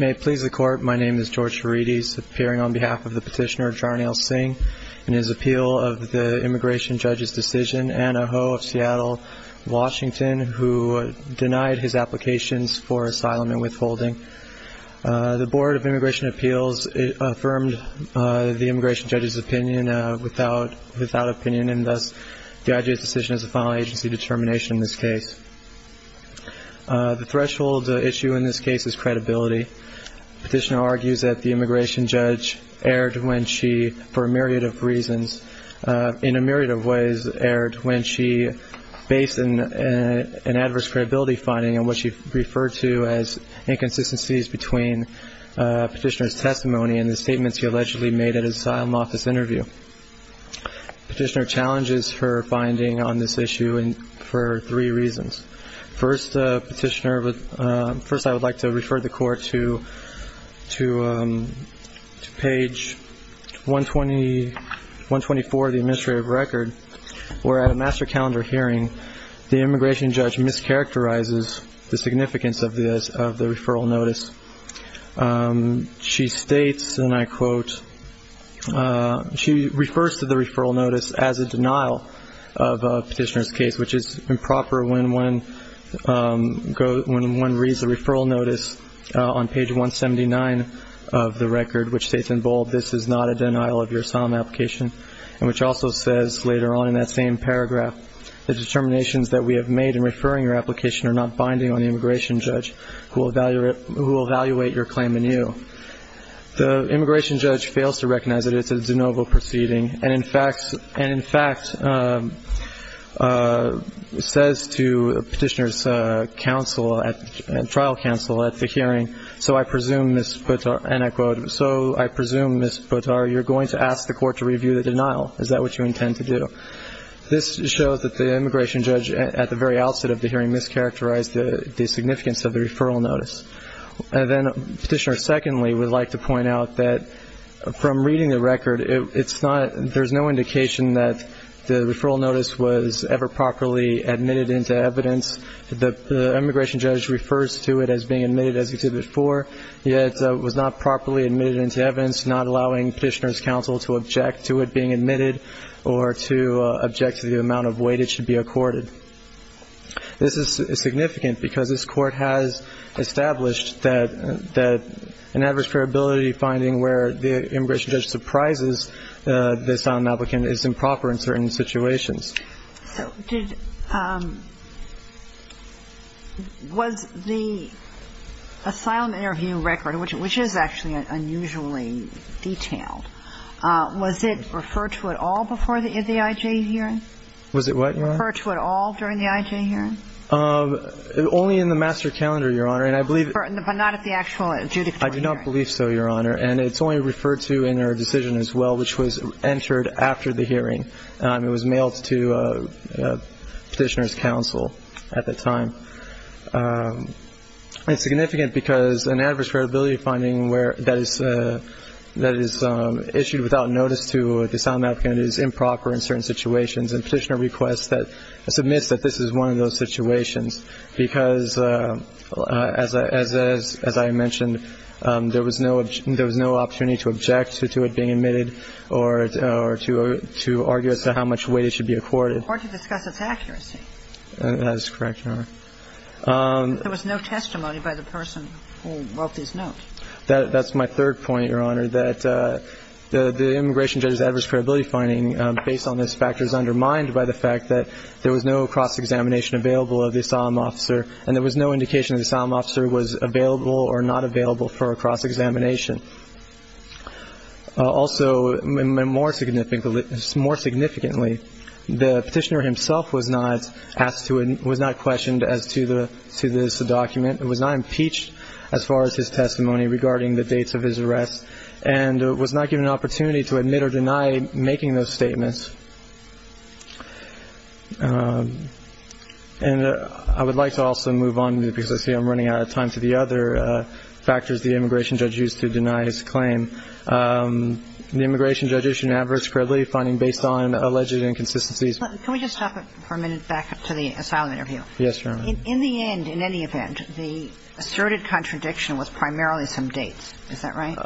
May it please the court, my name is George Harides, appearing on behalf of the petitioner Jarnail Singh in his appeal of the immigration judge's decision, Anna Ho of Seattle, Washington, who denied his applications for asylum and withholding. The Board of Immigration Appeals affirmed the immigration judge's opinion without opinion, and thus the IJA's decision is a final agency determination in this case. The threshold issue in this case is credibility. The petitioner argues that the immigration judge erred when she, for a myriad of reasons, in a myriad of ways erred when she based an adverse credibility finding on what she referred to as inconsistencies between the petitioner's testimony and the statements he allegedly made at his asylum office interview. The petitioner challenges her finding on this issue for three reasons. First, I would like to refer the court to page 124 of the administrative record, where at a master calendar hearing, the immigration judge mischaracterizes the significance of the referral notice. She states, and I quote, she refers to the referral notice as a denial of a petitioner's case, which is improper when one reads the referral notice on page 179 of the record, which states in bold, this is not a denial of your asylum application, and which also says later on in that same paragraph, the determinations that we have made in referring your application are not binding on the immigration judge, who will evaluate your claim anew. The immigration judge fails to recognize that it's a de novo proceeding, and in fact says to the petitioner's trial counsel at the hearing, so I presume, Ms. Puttar, and I quote, so I presume, Ms. Puttar, you're going to ask the court to review the denial. Is that what you intend to do? This shows that the immigration judge at the very outset of the hearing mischaracterized the significance of the referral notice. And then Petitioner secondly would like to point out that from reading the record, there's no indication that the referral notice was ever properly admitted into evidence. The immigration judge refers to it as being admitted as Exhibit 4, yet it was not properly admitted into evidence, not allowing Petitioner's counsel to object to it being admitted or to object to the amount of weight it should be accorded. This is significant because this Court has established that an adverse probability finding where the immigration judge surprises the asylum applicant is improper in certain situations. So was the asylum interview record, which is actually unusually detailed, was it referred to at all before the IJ hearing? Was it what, Your Honor? Was it referred to at all during the IJ hearing? Only in the master calendar, Your Honor. But not at the actual adjudicatory hearing. I do not believe so, Your Honor. And it's only referred to in our decision as well, which was entered after the hearing. It was mailed to Petitioner's counsel at the time. It's significant because an adverse probability finding that is issued without notice to the asylum applicant is improper in certain situations. And Petitioner requests that, submits that this is one of those situations because, as I mentioned, there was no opportunity to object to it being admitted or to argue as to how much weight it should be accorded. Or to discuss its accuracy. That is correct, Your Honor. There was no testimony by the person who wrote this note. That's my third point, Your Honor, that the immigration judge's adverse probability finding based on this factor is undermined by the fact that there was no cross-examination available of the asylum officer and there was no indication the asylum officer was available or not available for a cross-examination. Also, more significantly, the Petitioner himself was not questioned as to this document, was not impeached as far as his testimony regarding the dates of his arrest, and was not given an opportunity to admit or deny making those statements. And I would like to also move on, because I see I'm running out of time, to the other factors the immigration judge used to deny his claim. The immigration judge issued an adverse probability finding based on alleged inconsistencies. Can we just stop for a minute back to the asylum interview? Yes, Your Honor. In the end, in any event, the asserted contradiction was primarily some dates. Is that right?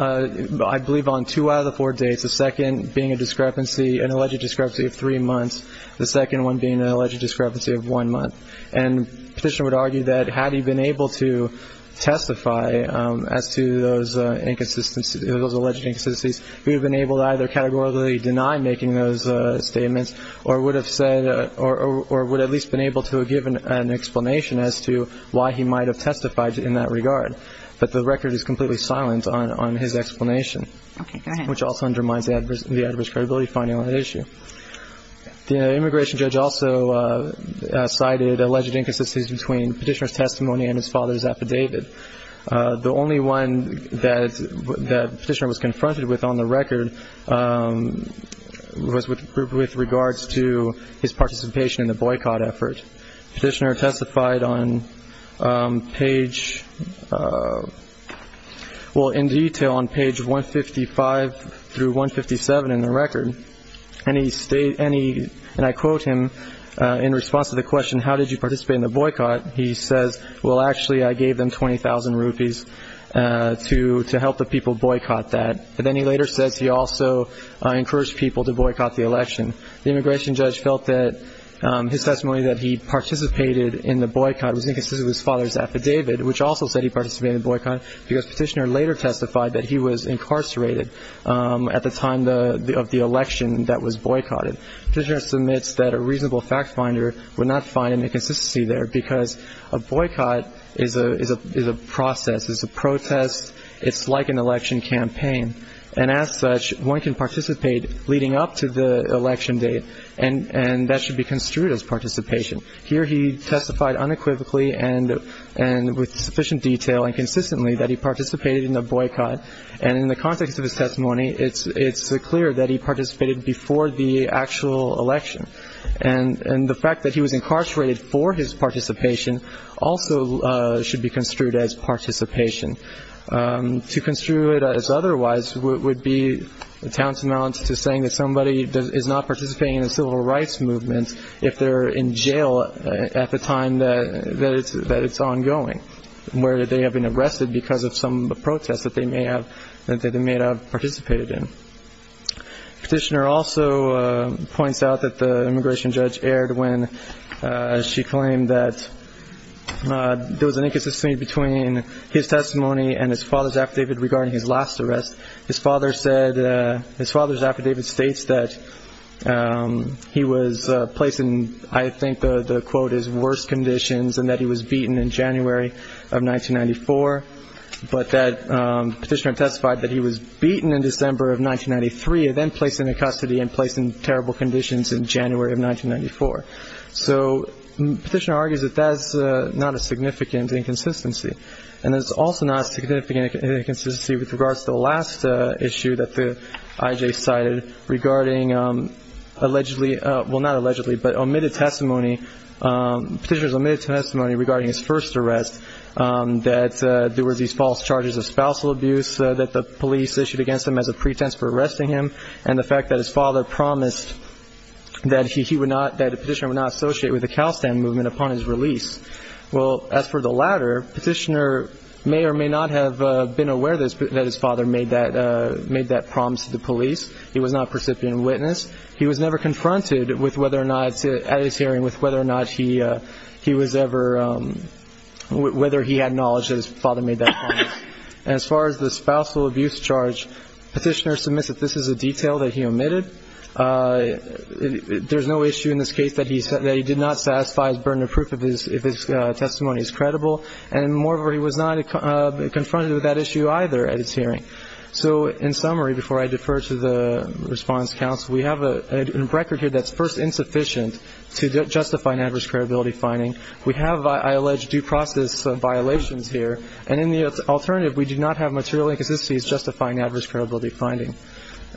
I believe on two out of the four dates, the second being an alleged discrepancy of three months, the second one being an alleged discrepancy of one month. And the Petitioner would argue that had he been able to testify as to those alleged inconsistencies, he would have been able to either categorically deny making those statements or would have at least been able to give an explanation as to why he might have testified in that regard. But the record is completely silent on his explanation. Okay, go ahead. Which also undermines the adverse credibility finding on that issue. The immigration judge also cited alleged inconsistencies between Petitioner's testimony and his father's affidavit. The only one that Petitioner was confronted with on the record was with regards to his participation in the boycott effort. Petitioner testified on page – well, in detail on page 155 through 157 in the record. And he – and I quote him in response to the question, how did you participate in the boycott? He says, well, actually I gave them 20,000 rupees to help the people boycott that. And then he later says he also encouraged people to boycott the election. The immigration judge felt that his testimony that he participated in the boycott was inconsistent with his father's affidavit, which also said he participated in the boycott because Petitioner later testified that he was incarcerated at the time of the election that was boycotted. Petitioner submits that a reasonable fact finder would not find an inconsistency there because a boycott is a process. It's a protest. It's like an election campaign. And as such, one can participate leading up to the election date, and that should be construed as participation. Here he testified unequivocally and with sufficient detail and consistently that he participated in the boycott. And in the context of his testimony, it's clear that he participated before the actual election. And the fact that he was incarcerated for his participation also should be construed as participation. To construe it as otherwise would be tantamount to saying that somebody is not participating in a civil rights movement if they're in jail at the time that it's ongoing, where they have been arrested because of some of the protests that they may have participated in. Petitioner also points out that the immigration judge erred when she claimed that there was an inconsistency between his testimony and his father's affidavit regarding his last arrest. His father's affidavit states that he was placed in, I think the quote is, and that he was beaten in January of 1994. But that petitioner testified that he was beaten in December of 1993 and then placed into custody and placed in terrible conditions in January of 1994. So petitioner argues that that's not a significant inconsistency. And it's also not a significant inconsistency with regards to the last issue that the I.J. cited regarding allegedly, well, not allegedly, but omitted testimony, petitioner's omitted testimony regarding his first arrest, that there were these false charges of spousal abuse that the police issued against him as a pretense for arresting him and the fact that his father promised that he would not, that the petitioner would not associate with the CalStan movement upon his release. Well, as for the latter, petitioner may or may not have been aware that his father made that promise to the police. He was not a recipient witness. He was never confronted with whether or not, at his hearing, with whether or not he was ever, whether he had knowledge that his father made that promise. And as far as the spousal abuse charge, petitioner submits that this is a detail that he omitted. There's no issue in this case that he did not satisfy his burden of proof if his testimony is credible. And moreover, he was not confronted with that issue either at his hearing. So in summary, before I defer to the response counsel, we have a record here that's first insufficient to justify an adverse credibility finding. We have, I allege, due process violations here. And in the alternative, we do not have material inconsistencies justifying adverse credibility finding.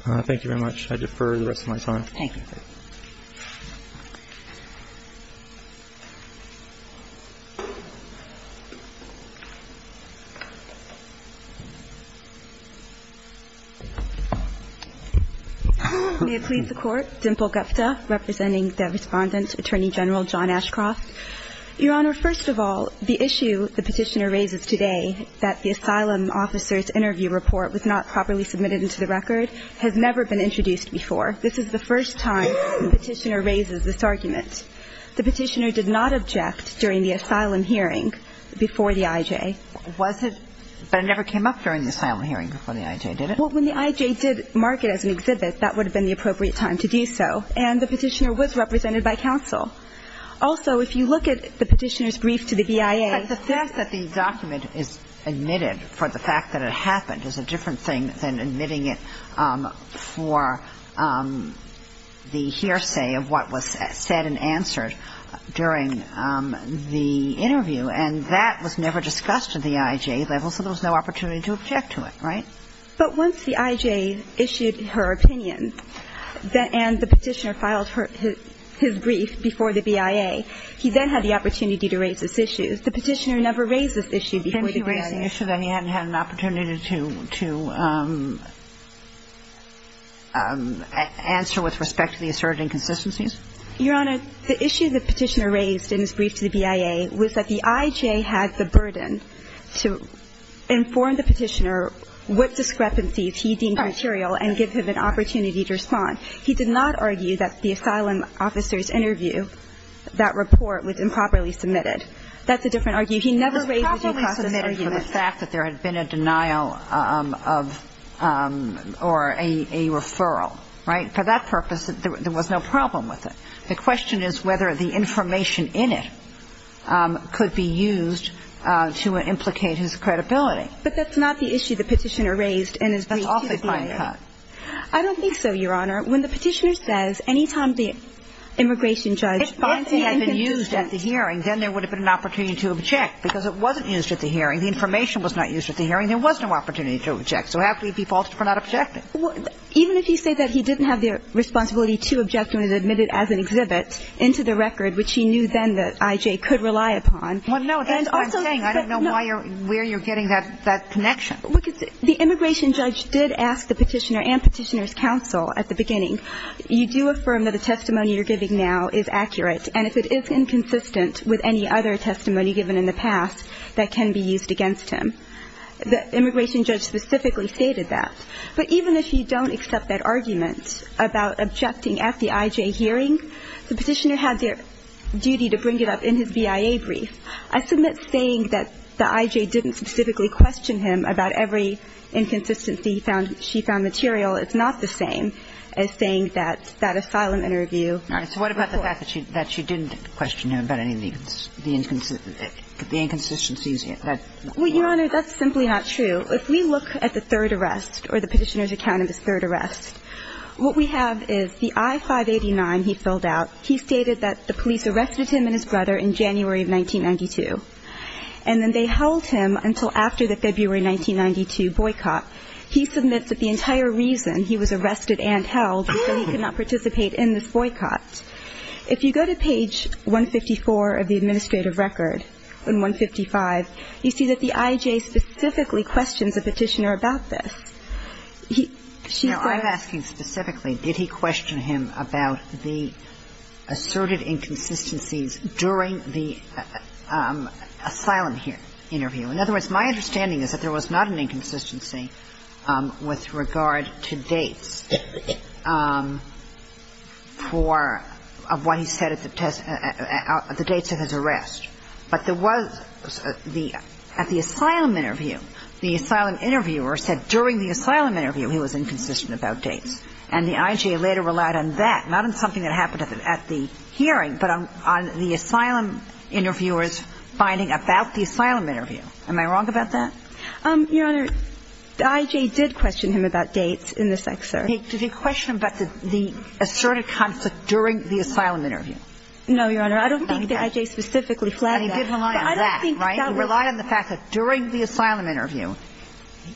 Thank you very much. I defer the rest of my time. Thank you. May it please the Court. Dimple Gupta, representing the Respondent, Attorney General John Ashcroft. Your Honor, first of all, the issue the petitioner raises today, that the asylum officer's interview report was not properly submitted into the record, has never been introduced before. This is the first time the petitioner raises this argument. The petitioner did not object during the asylum hearing before the IJ. Was it? But it never came up during the asylum hearing. Well, when the IJ did mark it as an exhibit, that would have been the appropriate time to do so. And the petitioner was represented by counsel. Also, if you look at the petitioner's brief to the BIA. But the fact that the document is admitted for the fact that it happened is a different thing than admitting it for the hearsay of what was said and answered during the interview. And that was never discussed at the IJ level, so there was no opportunity to object to it. Right? But once the IJ issued her opinion and the petitioner filed his brief before the BIA, he then had the opportunity to raise this issue. The petitioner never raised this issue before the BIA. Didn't he raise the issue then? He hadn't had an opportunity to answer with respect to the asserted inconsistencies? Your Honor, the issue the petitioner raised in his brief to the BIA was that the IJ had the burden to inform the petitioner what discrepancies he deemed material and give him an opportunity to respond. He did not argue that the asylum officer's interview, that report, was improperly submitted. That's a different argument. He never raised the discrepancies. It was improperly submitted for the fact that there had been a denial of or a referral. Right? And for that purpose, there was no problem with it. The question is whether the information in it could be used to implicate his credibility. But that's not the issue the petitioner raised in his brief to the BIA. That's also fine cut. I don't think so, Your Honor. When the petitioner says any time the immigration judge raised the inconsistencies. If both had been used at the hearing, then there would have been an opportunity to object, because it wasn't used at the hearing. The information was not used at the hearing. There was no opportunity to object. So how could he be faulted for not objecting? Even if you say that he didn't have the responsibility to object when it was admitted as an exhibit into the record, which he knew then that I.J. could rely upon. Well, no, that's what I'm saying. I don't know why or where you're getting that connection. The immigration judge did ask the petitioner and Petitioner's Counsel at the beginning, you do affirm that the testimony you're giving now is accurate, and if it is inconsistent with any other testimony given in the past that can be used against him, the immigration judge specifically stated that. But even if you don't accept that argument about objecting at the I.J. hearing, the petitioner had their duty to bring it up in his BIA brief. I submit saying that the I.J. didn't specifically question him about every inconsistency she found material is not the same as saying that that asylum interview was false. All right. So what about the fact that she didn't question him about any of the inconsistencies he had? Well, Your Honor, that's simply not true. If we look at the third arrest, or the petitioner's account of his third arrest, what we have is the I-589 he filled out, he stated that the police arrested him and his brother in January of 1992. And then they held him until after the February 1992 boycott. He submits that the entire reason he was arrested and held was that he could not participate in this boycott. If you go to page 154 of the administrative record, in 155, you see that the I.J. specifically questions the petitioner about this. He – she said – Now, I'm asking specifically, did he question him about the asserted inconsistencies during the asylum interview? In other words, my understanding is that there was not an inconsistency with regard to dates for what he said at the test – the dates of his arrest. But there was – at the asylum interview, the asylum interviewer said during the asylum interview he was inconsistent about dates. And the I.J. later relied on that, not on something that happened at the hearing, but on the asylum interviewer's finding about the asylum interview. Am I wrong about that? Your Honor, the I.J. did question him about dates in this excerpt. Did he question him about the asserted conflict during the asylum interview? No, Your Honor. I don't think the I.J. specifically flagged that. And he did rely on that, right? He relied on the fact that during the asylum interview,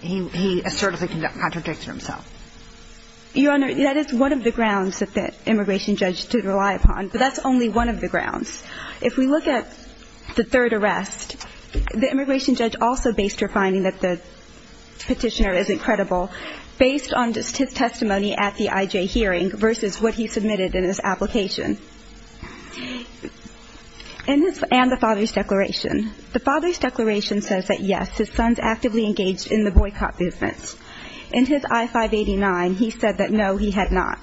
he assertedly contradicted himself. Your Honor, that is one of the grounds that the immigration judge did rely upon. But that's only one of the grounds. If we look at the third arrest, the immigration judge also based her finding that the petitioner isn't credible based on his testimony at the I.J. hearing versus what he submitted in his application. And the father's declaration. The father's declaration says that, yes, his son's actively engaged in the boycott movement. In his I-589, he said that, no, he had not.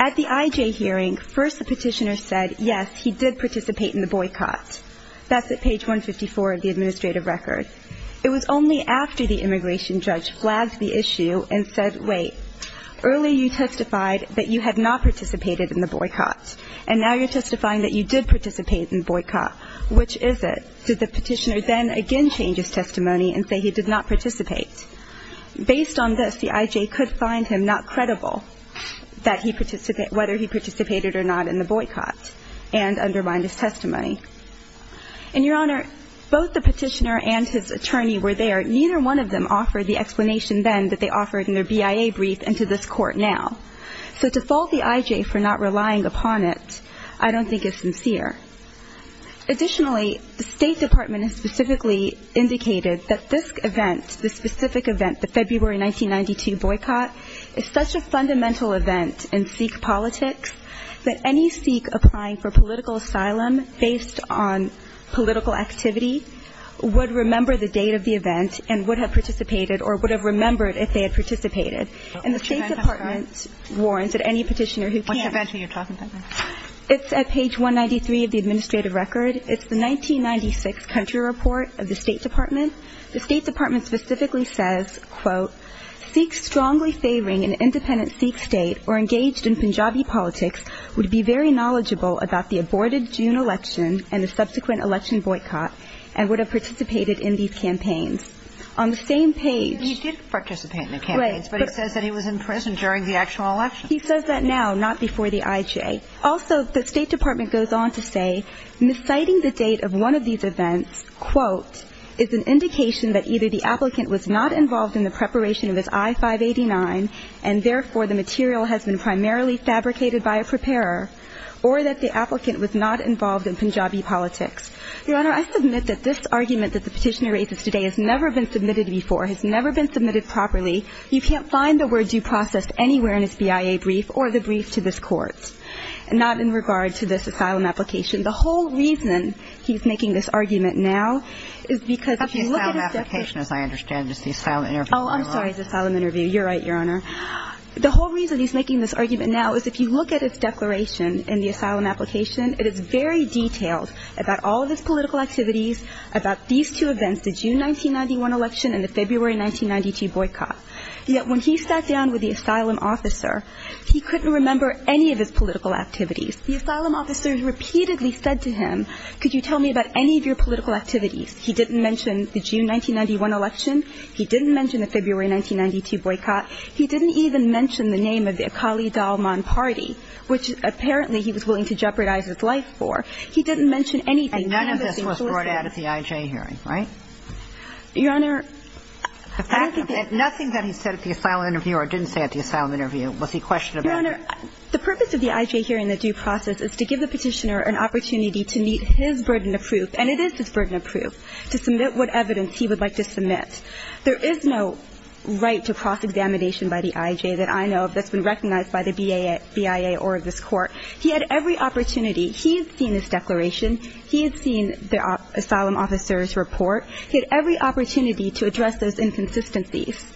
At the I.J. hearing, first the petitioner said, yes, he did participate in the boycott. That's at page 154 of the administrative record. It was only after the immigration judge flagged the issue and said, wait, earlier you testified that you had not participated in the boycott. And now you're testifying that you did participate in the boycott. Which is it? Did the petitioner then again change his testimony and say he did not participate? Based on this, the I.J. could find him not credible that he participated whether he participated or not in the boycott and undermine his testimony. And, Your Honor, both the petitioner and his attorney were there. Neither one of them offered the explanation then that they offered in their BIA brief and to this court now. So to fault the I.J. for not relying upon it, I don't think is sincere. Additionally, the State Department has specifically indicated that this event, this specific event, the February 1992 boycott, is such a fundamental event in Sikh politics that any Sikh applying for political asylum based on political activity would remember the date of the event and would have participated or would have remembered if they had participated. And the State Department warns that any petitioner who can't. What event are you talking about? It's at page 193 of the administrative record. It's the 1996 country report of the State Department. The State Department specifically says, quote, Sikhs strongly favoring an independent Sikh state or engaged in Punjabi politics would be very knowledgeable about the aborted June election and the subsequent election boycott and would have participated in these campaigns. On the same page. He did participate in the campaigns. But he says that he was in prison during the actual election. He says that now, not before the I.J. Also, the State Department goes on to say, citing the date of one of these events, quote, is an indication that either the applicant was not involved in the preparation of his I-589 and, therefore, the material has been primarily fabricated by a preparer or that the applicant was not involved in Punjabi politics. Your Honor, I submit that this argument that the petitioner raises today has never been submitted before, has never been submitted properly. You can't find the words you processed anywhere in his BIA brief or the brief to this court. Not in regard to this asylum application. The whole reason he's making this argument now is because if you look at his declaration. It's not the asylum application, as I understand. It's the asylum interview. Oh, I'm sorry. It's the asylum interview. You're right, Your Honor. The whole reason he's making this argument now is if you look at his declaration in the asylum application, it is very detailed about all of his political activities, about these two events, the June 1991 election and the February 1992 boycott. Yet when he sat down with the asylum officer, he couldn't remember any of his political activities. The asylum officer repeatedly said to him, could you tell me about any of your political activities? He didn't mention the June 1991 election. He didn't mention the February 1992 boycott. He didn't even mention the name of the Akali Dalman party, which apparently he was willing to jeopardize his life for. He didn't mention anything. None of this was brought out of the IJ hearing, right? Your Honor, I don't think that's true. The fact of it, nothing that he said at the asylum interview or didn't say at the asylum interview was he questioning about? Your Honor, the purpose of the IJ hearing, the due process, is to give the Petitioner an opportunity to meet his burden of proof, and it is his burden of proof, to submit what evidence he would like to submit. There is no right to cross-examination by the IJ that I know of that's been recognized by the BIA or this Court. He had every opportunity. He had seen this declaration. He had seen the asylum officer's report. He had every opportunity to address those inconsistencies.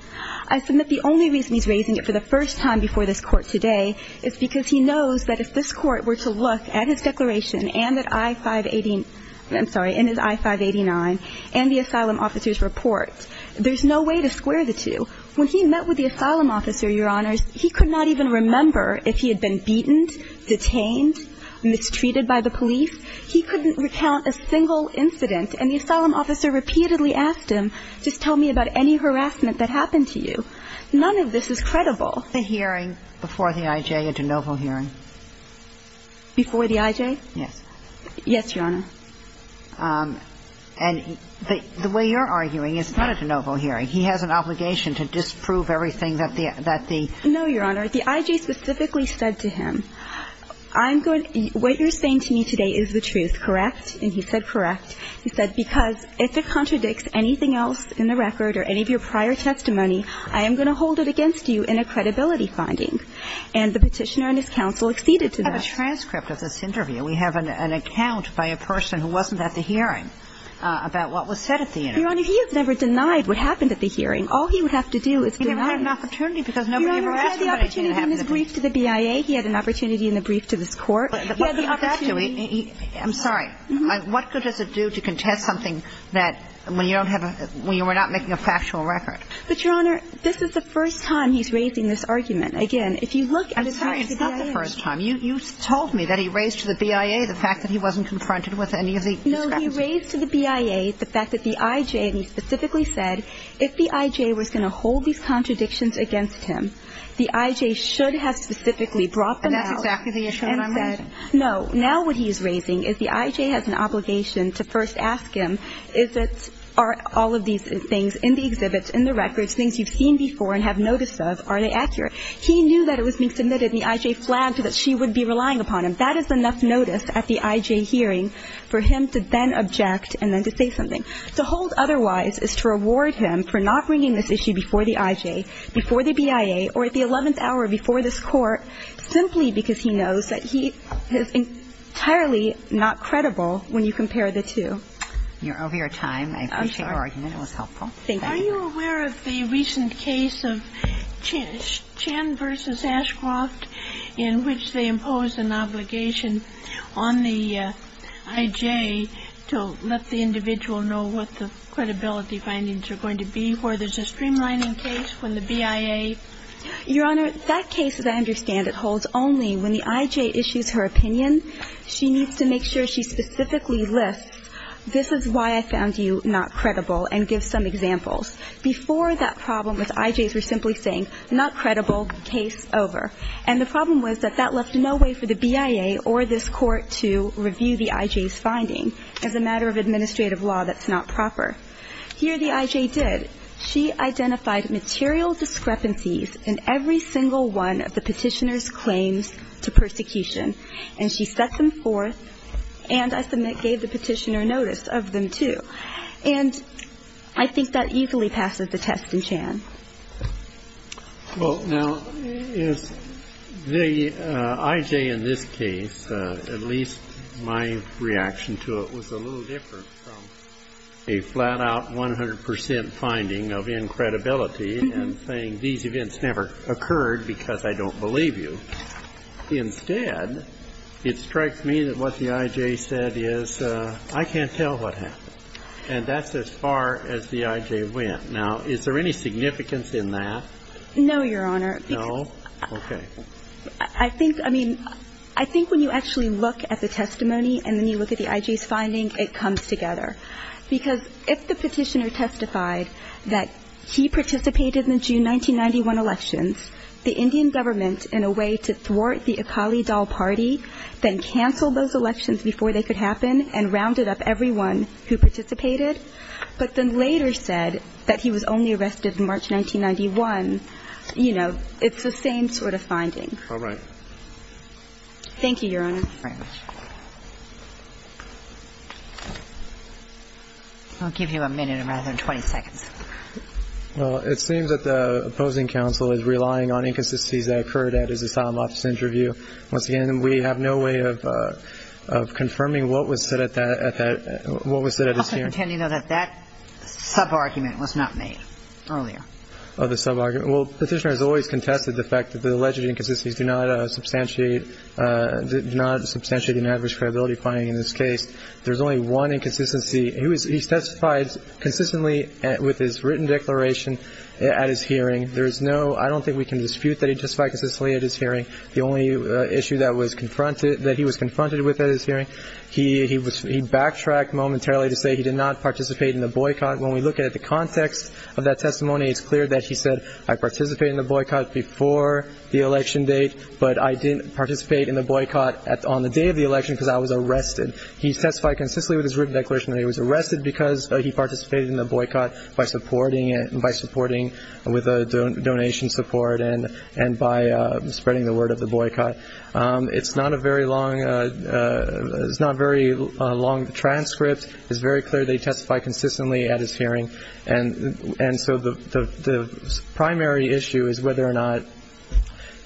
I submit the only reason he's raising it for the first time before this Court today is because he knows that if this Court were to look at his declaration and at I-589 and the asylum officer's report, there's no way to square the two. When he met with the asylum officer, Your Honors, he could not even remember if he had been beaten, detained, mistreated by the police. He couldn't recount a single incident. And the asylum officer repeatedly asked him, just tell me about any harassment that happened to you. None of this is credible. Was the hearing before the IJ a de novo hearing? Before the IJ? Yes. Yes, Your Honor. And the way you're arguing, it's not a de novo hearing. He has an obligation to disprove everything that the – No, Your Honor. The IJ specifically said to him, I'm going – what you're saying to me today is that I'm going to hold you to the truth, correct? And he said, correct. He said, because if it contradicts anything else in the record or any of your prior testimony, I am going to hold it against you in a credibility finding. And the Petitioner and his counsel acceded to that. We have a transcript of this interview. We have an account by a person who wasn't at the hearing about what was said at the interview. Your Honor, he has never denied what happened at the hearing. All he would have to do is deny it. He never had an opportunity because nobody ever asked him what had happened. Your Honor, he had the opportunity in his brief to the BIA. He had an opportunity in the brief to this Court. He had the opportunity – I'm sorry. What good does it do to contest something that – when you don't have a – when you are not making a factual record? But, Your Honor, this is the first time he's raising this argument. Again, if you look at his testimony to the BIA – I'm sorry. It's not the first time. You told me that he raised to the BIA the fact that he wasn't confronted with any of the discrepancies. No, he raised to the BIA the fact that the IJ – and he specifically said if the IJ was going to hold these contradictions against him, the IJ should have specifically brought them out and said – And that's exactly the issue that I'm raising. No. Now what he is raising is the IJ has an obligation to first ask him, is it – are all of these things in the exhibits, in the records, things you've seen before and have notice of, are they accurate? He knew that it was being submitted and the IJ flagged that she would be relying upon him. That is enough notice at the IJ hearing for him to then object and then to say something. To hold otherwise is to reward him for not bringing this issue before the IJ, before the BIA, or at the 11th hour before this Court, simply because he knows that he is entirely not credible when you compare the two. You're over your time. I appreciate your argument. It was helpful. Thank you. Are you aware of the recent case of Chan v. Ashcroft in which they imposed an obligation on the IJ to let the individual know what the credibility findings are going to be, where there's a streamlining case, when the BIA – Your Honor, that case, as I understand it, holds only when the IJ issues her opinion. She needs to make sure she specifically lists, this is why I found you not credible, and gives some examples. Before that problem, the IJs were simply saying, not credible, case over. And the problem was that that left no way for the BIA or this Court to review the IJ's finding. As a matter of administrative law, that's not proper. Here the IJ did. She identified material discrepancies in every single one of the Petitioner's claims to persecution, and she set them forth and, I submit, gave the Petitioner notice of them, too. And I think that easily passes the test in Chan. Well, now, the IJ in this case, at least my reaction to it, was a little different from a flat-out 100 percent finding of incredibility and saying these events never occurred because I don't believe you. Instead, it strikes me that what the IJ said is, I can't tell what happened. And that's as far as the IJ went. Now, is there any significance in that? No, Your Honor. No? Okay. I think, I mean, I think when you actually look at the testimony and then you look at the IJ's finding, it comes together. Because if the Petitioner testified that he participated in the June 1991 elections, the Indian government, in a way to thwart the Akali Dal Party, then canceled those elections before they could happen and rounded up everyone who participated, but then later said that he was only arrested in March 1991, you know, it's the same sort of finding. All right. Thank you, Your Honor. Thank you very much. I'll give you a minute rather than 20 seconds. Well, it seems that the opposing counsel is relying on inconsistencies that occurred at his asylum office interview. Once again, we have no way of confirming what was said at that, what was said at his hearing. I'll continue, though, that that sub-argument was not made earlier. Oh, the sub-argument. Well, the Petitioner has always contested the fact that the alleged inconsistencies do not substantiate, do not substantiate an adverse credibility finding in this case. There's only one inconsistency. He testified consistently with his written declaration at his hearing. There is no, I don't think we can dispute that he testified consistently at his hearing. The only issue that was confronted, that he was confronted with at his hearing, he backtracked momentarily to say he did not participate in the boycott. When we look at the context of that testimony, it's clear that he said, I participated in the boycott before the election date, but I didn't participate in the boycott on the day of the election because I was arrested. He testified consistently with his written declaration that he was arrested because he participated in the boycott by supporting it, by supporting with a donation support and by spreading the word of the boycott. It's not a very long, it's not a very long transcript. It's very clear they testified consistently at his hearing. And so the primary issue is whether or not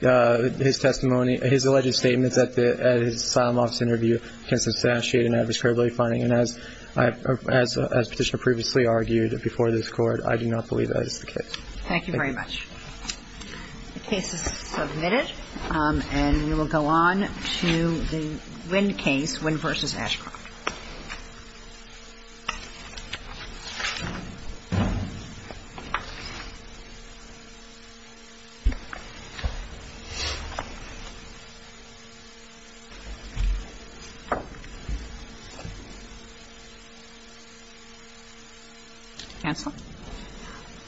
his testimony, his alleged statements at his asylum office interview can substantiate an adverse credibility finding. And as Petitioner previously argued before this Court, I do not believe that is the case. Thank you very much. The case is submitted, and we will go on to the Wynn case, Wynn v. Ashcroft. Thank you.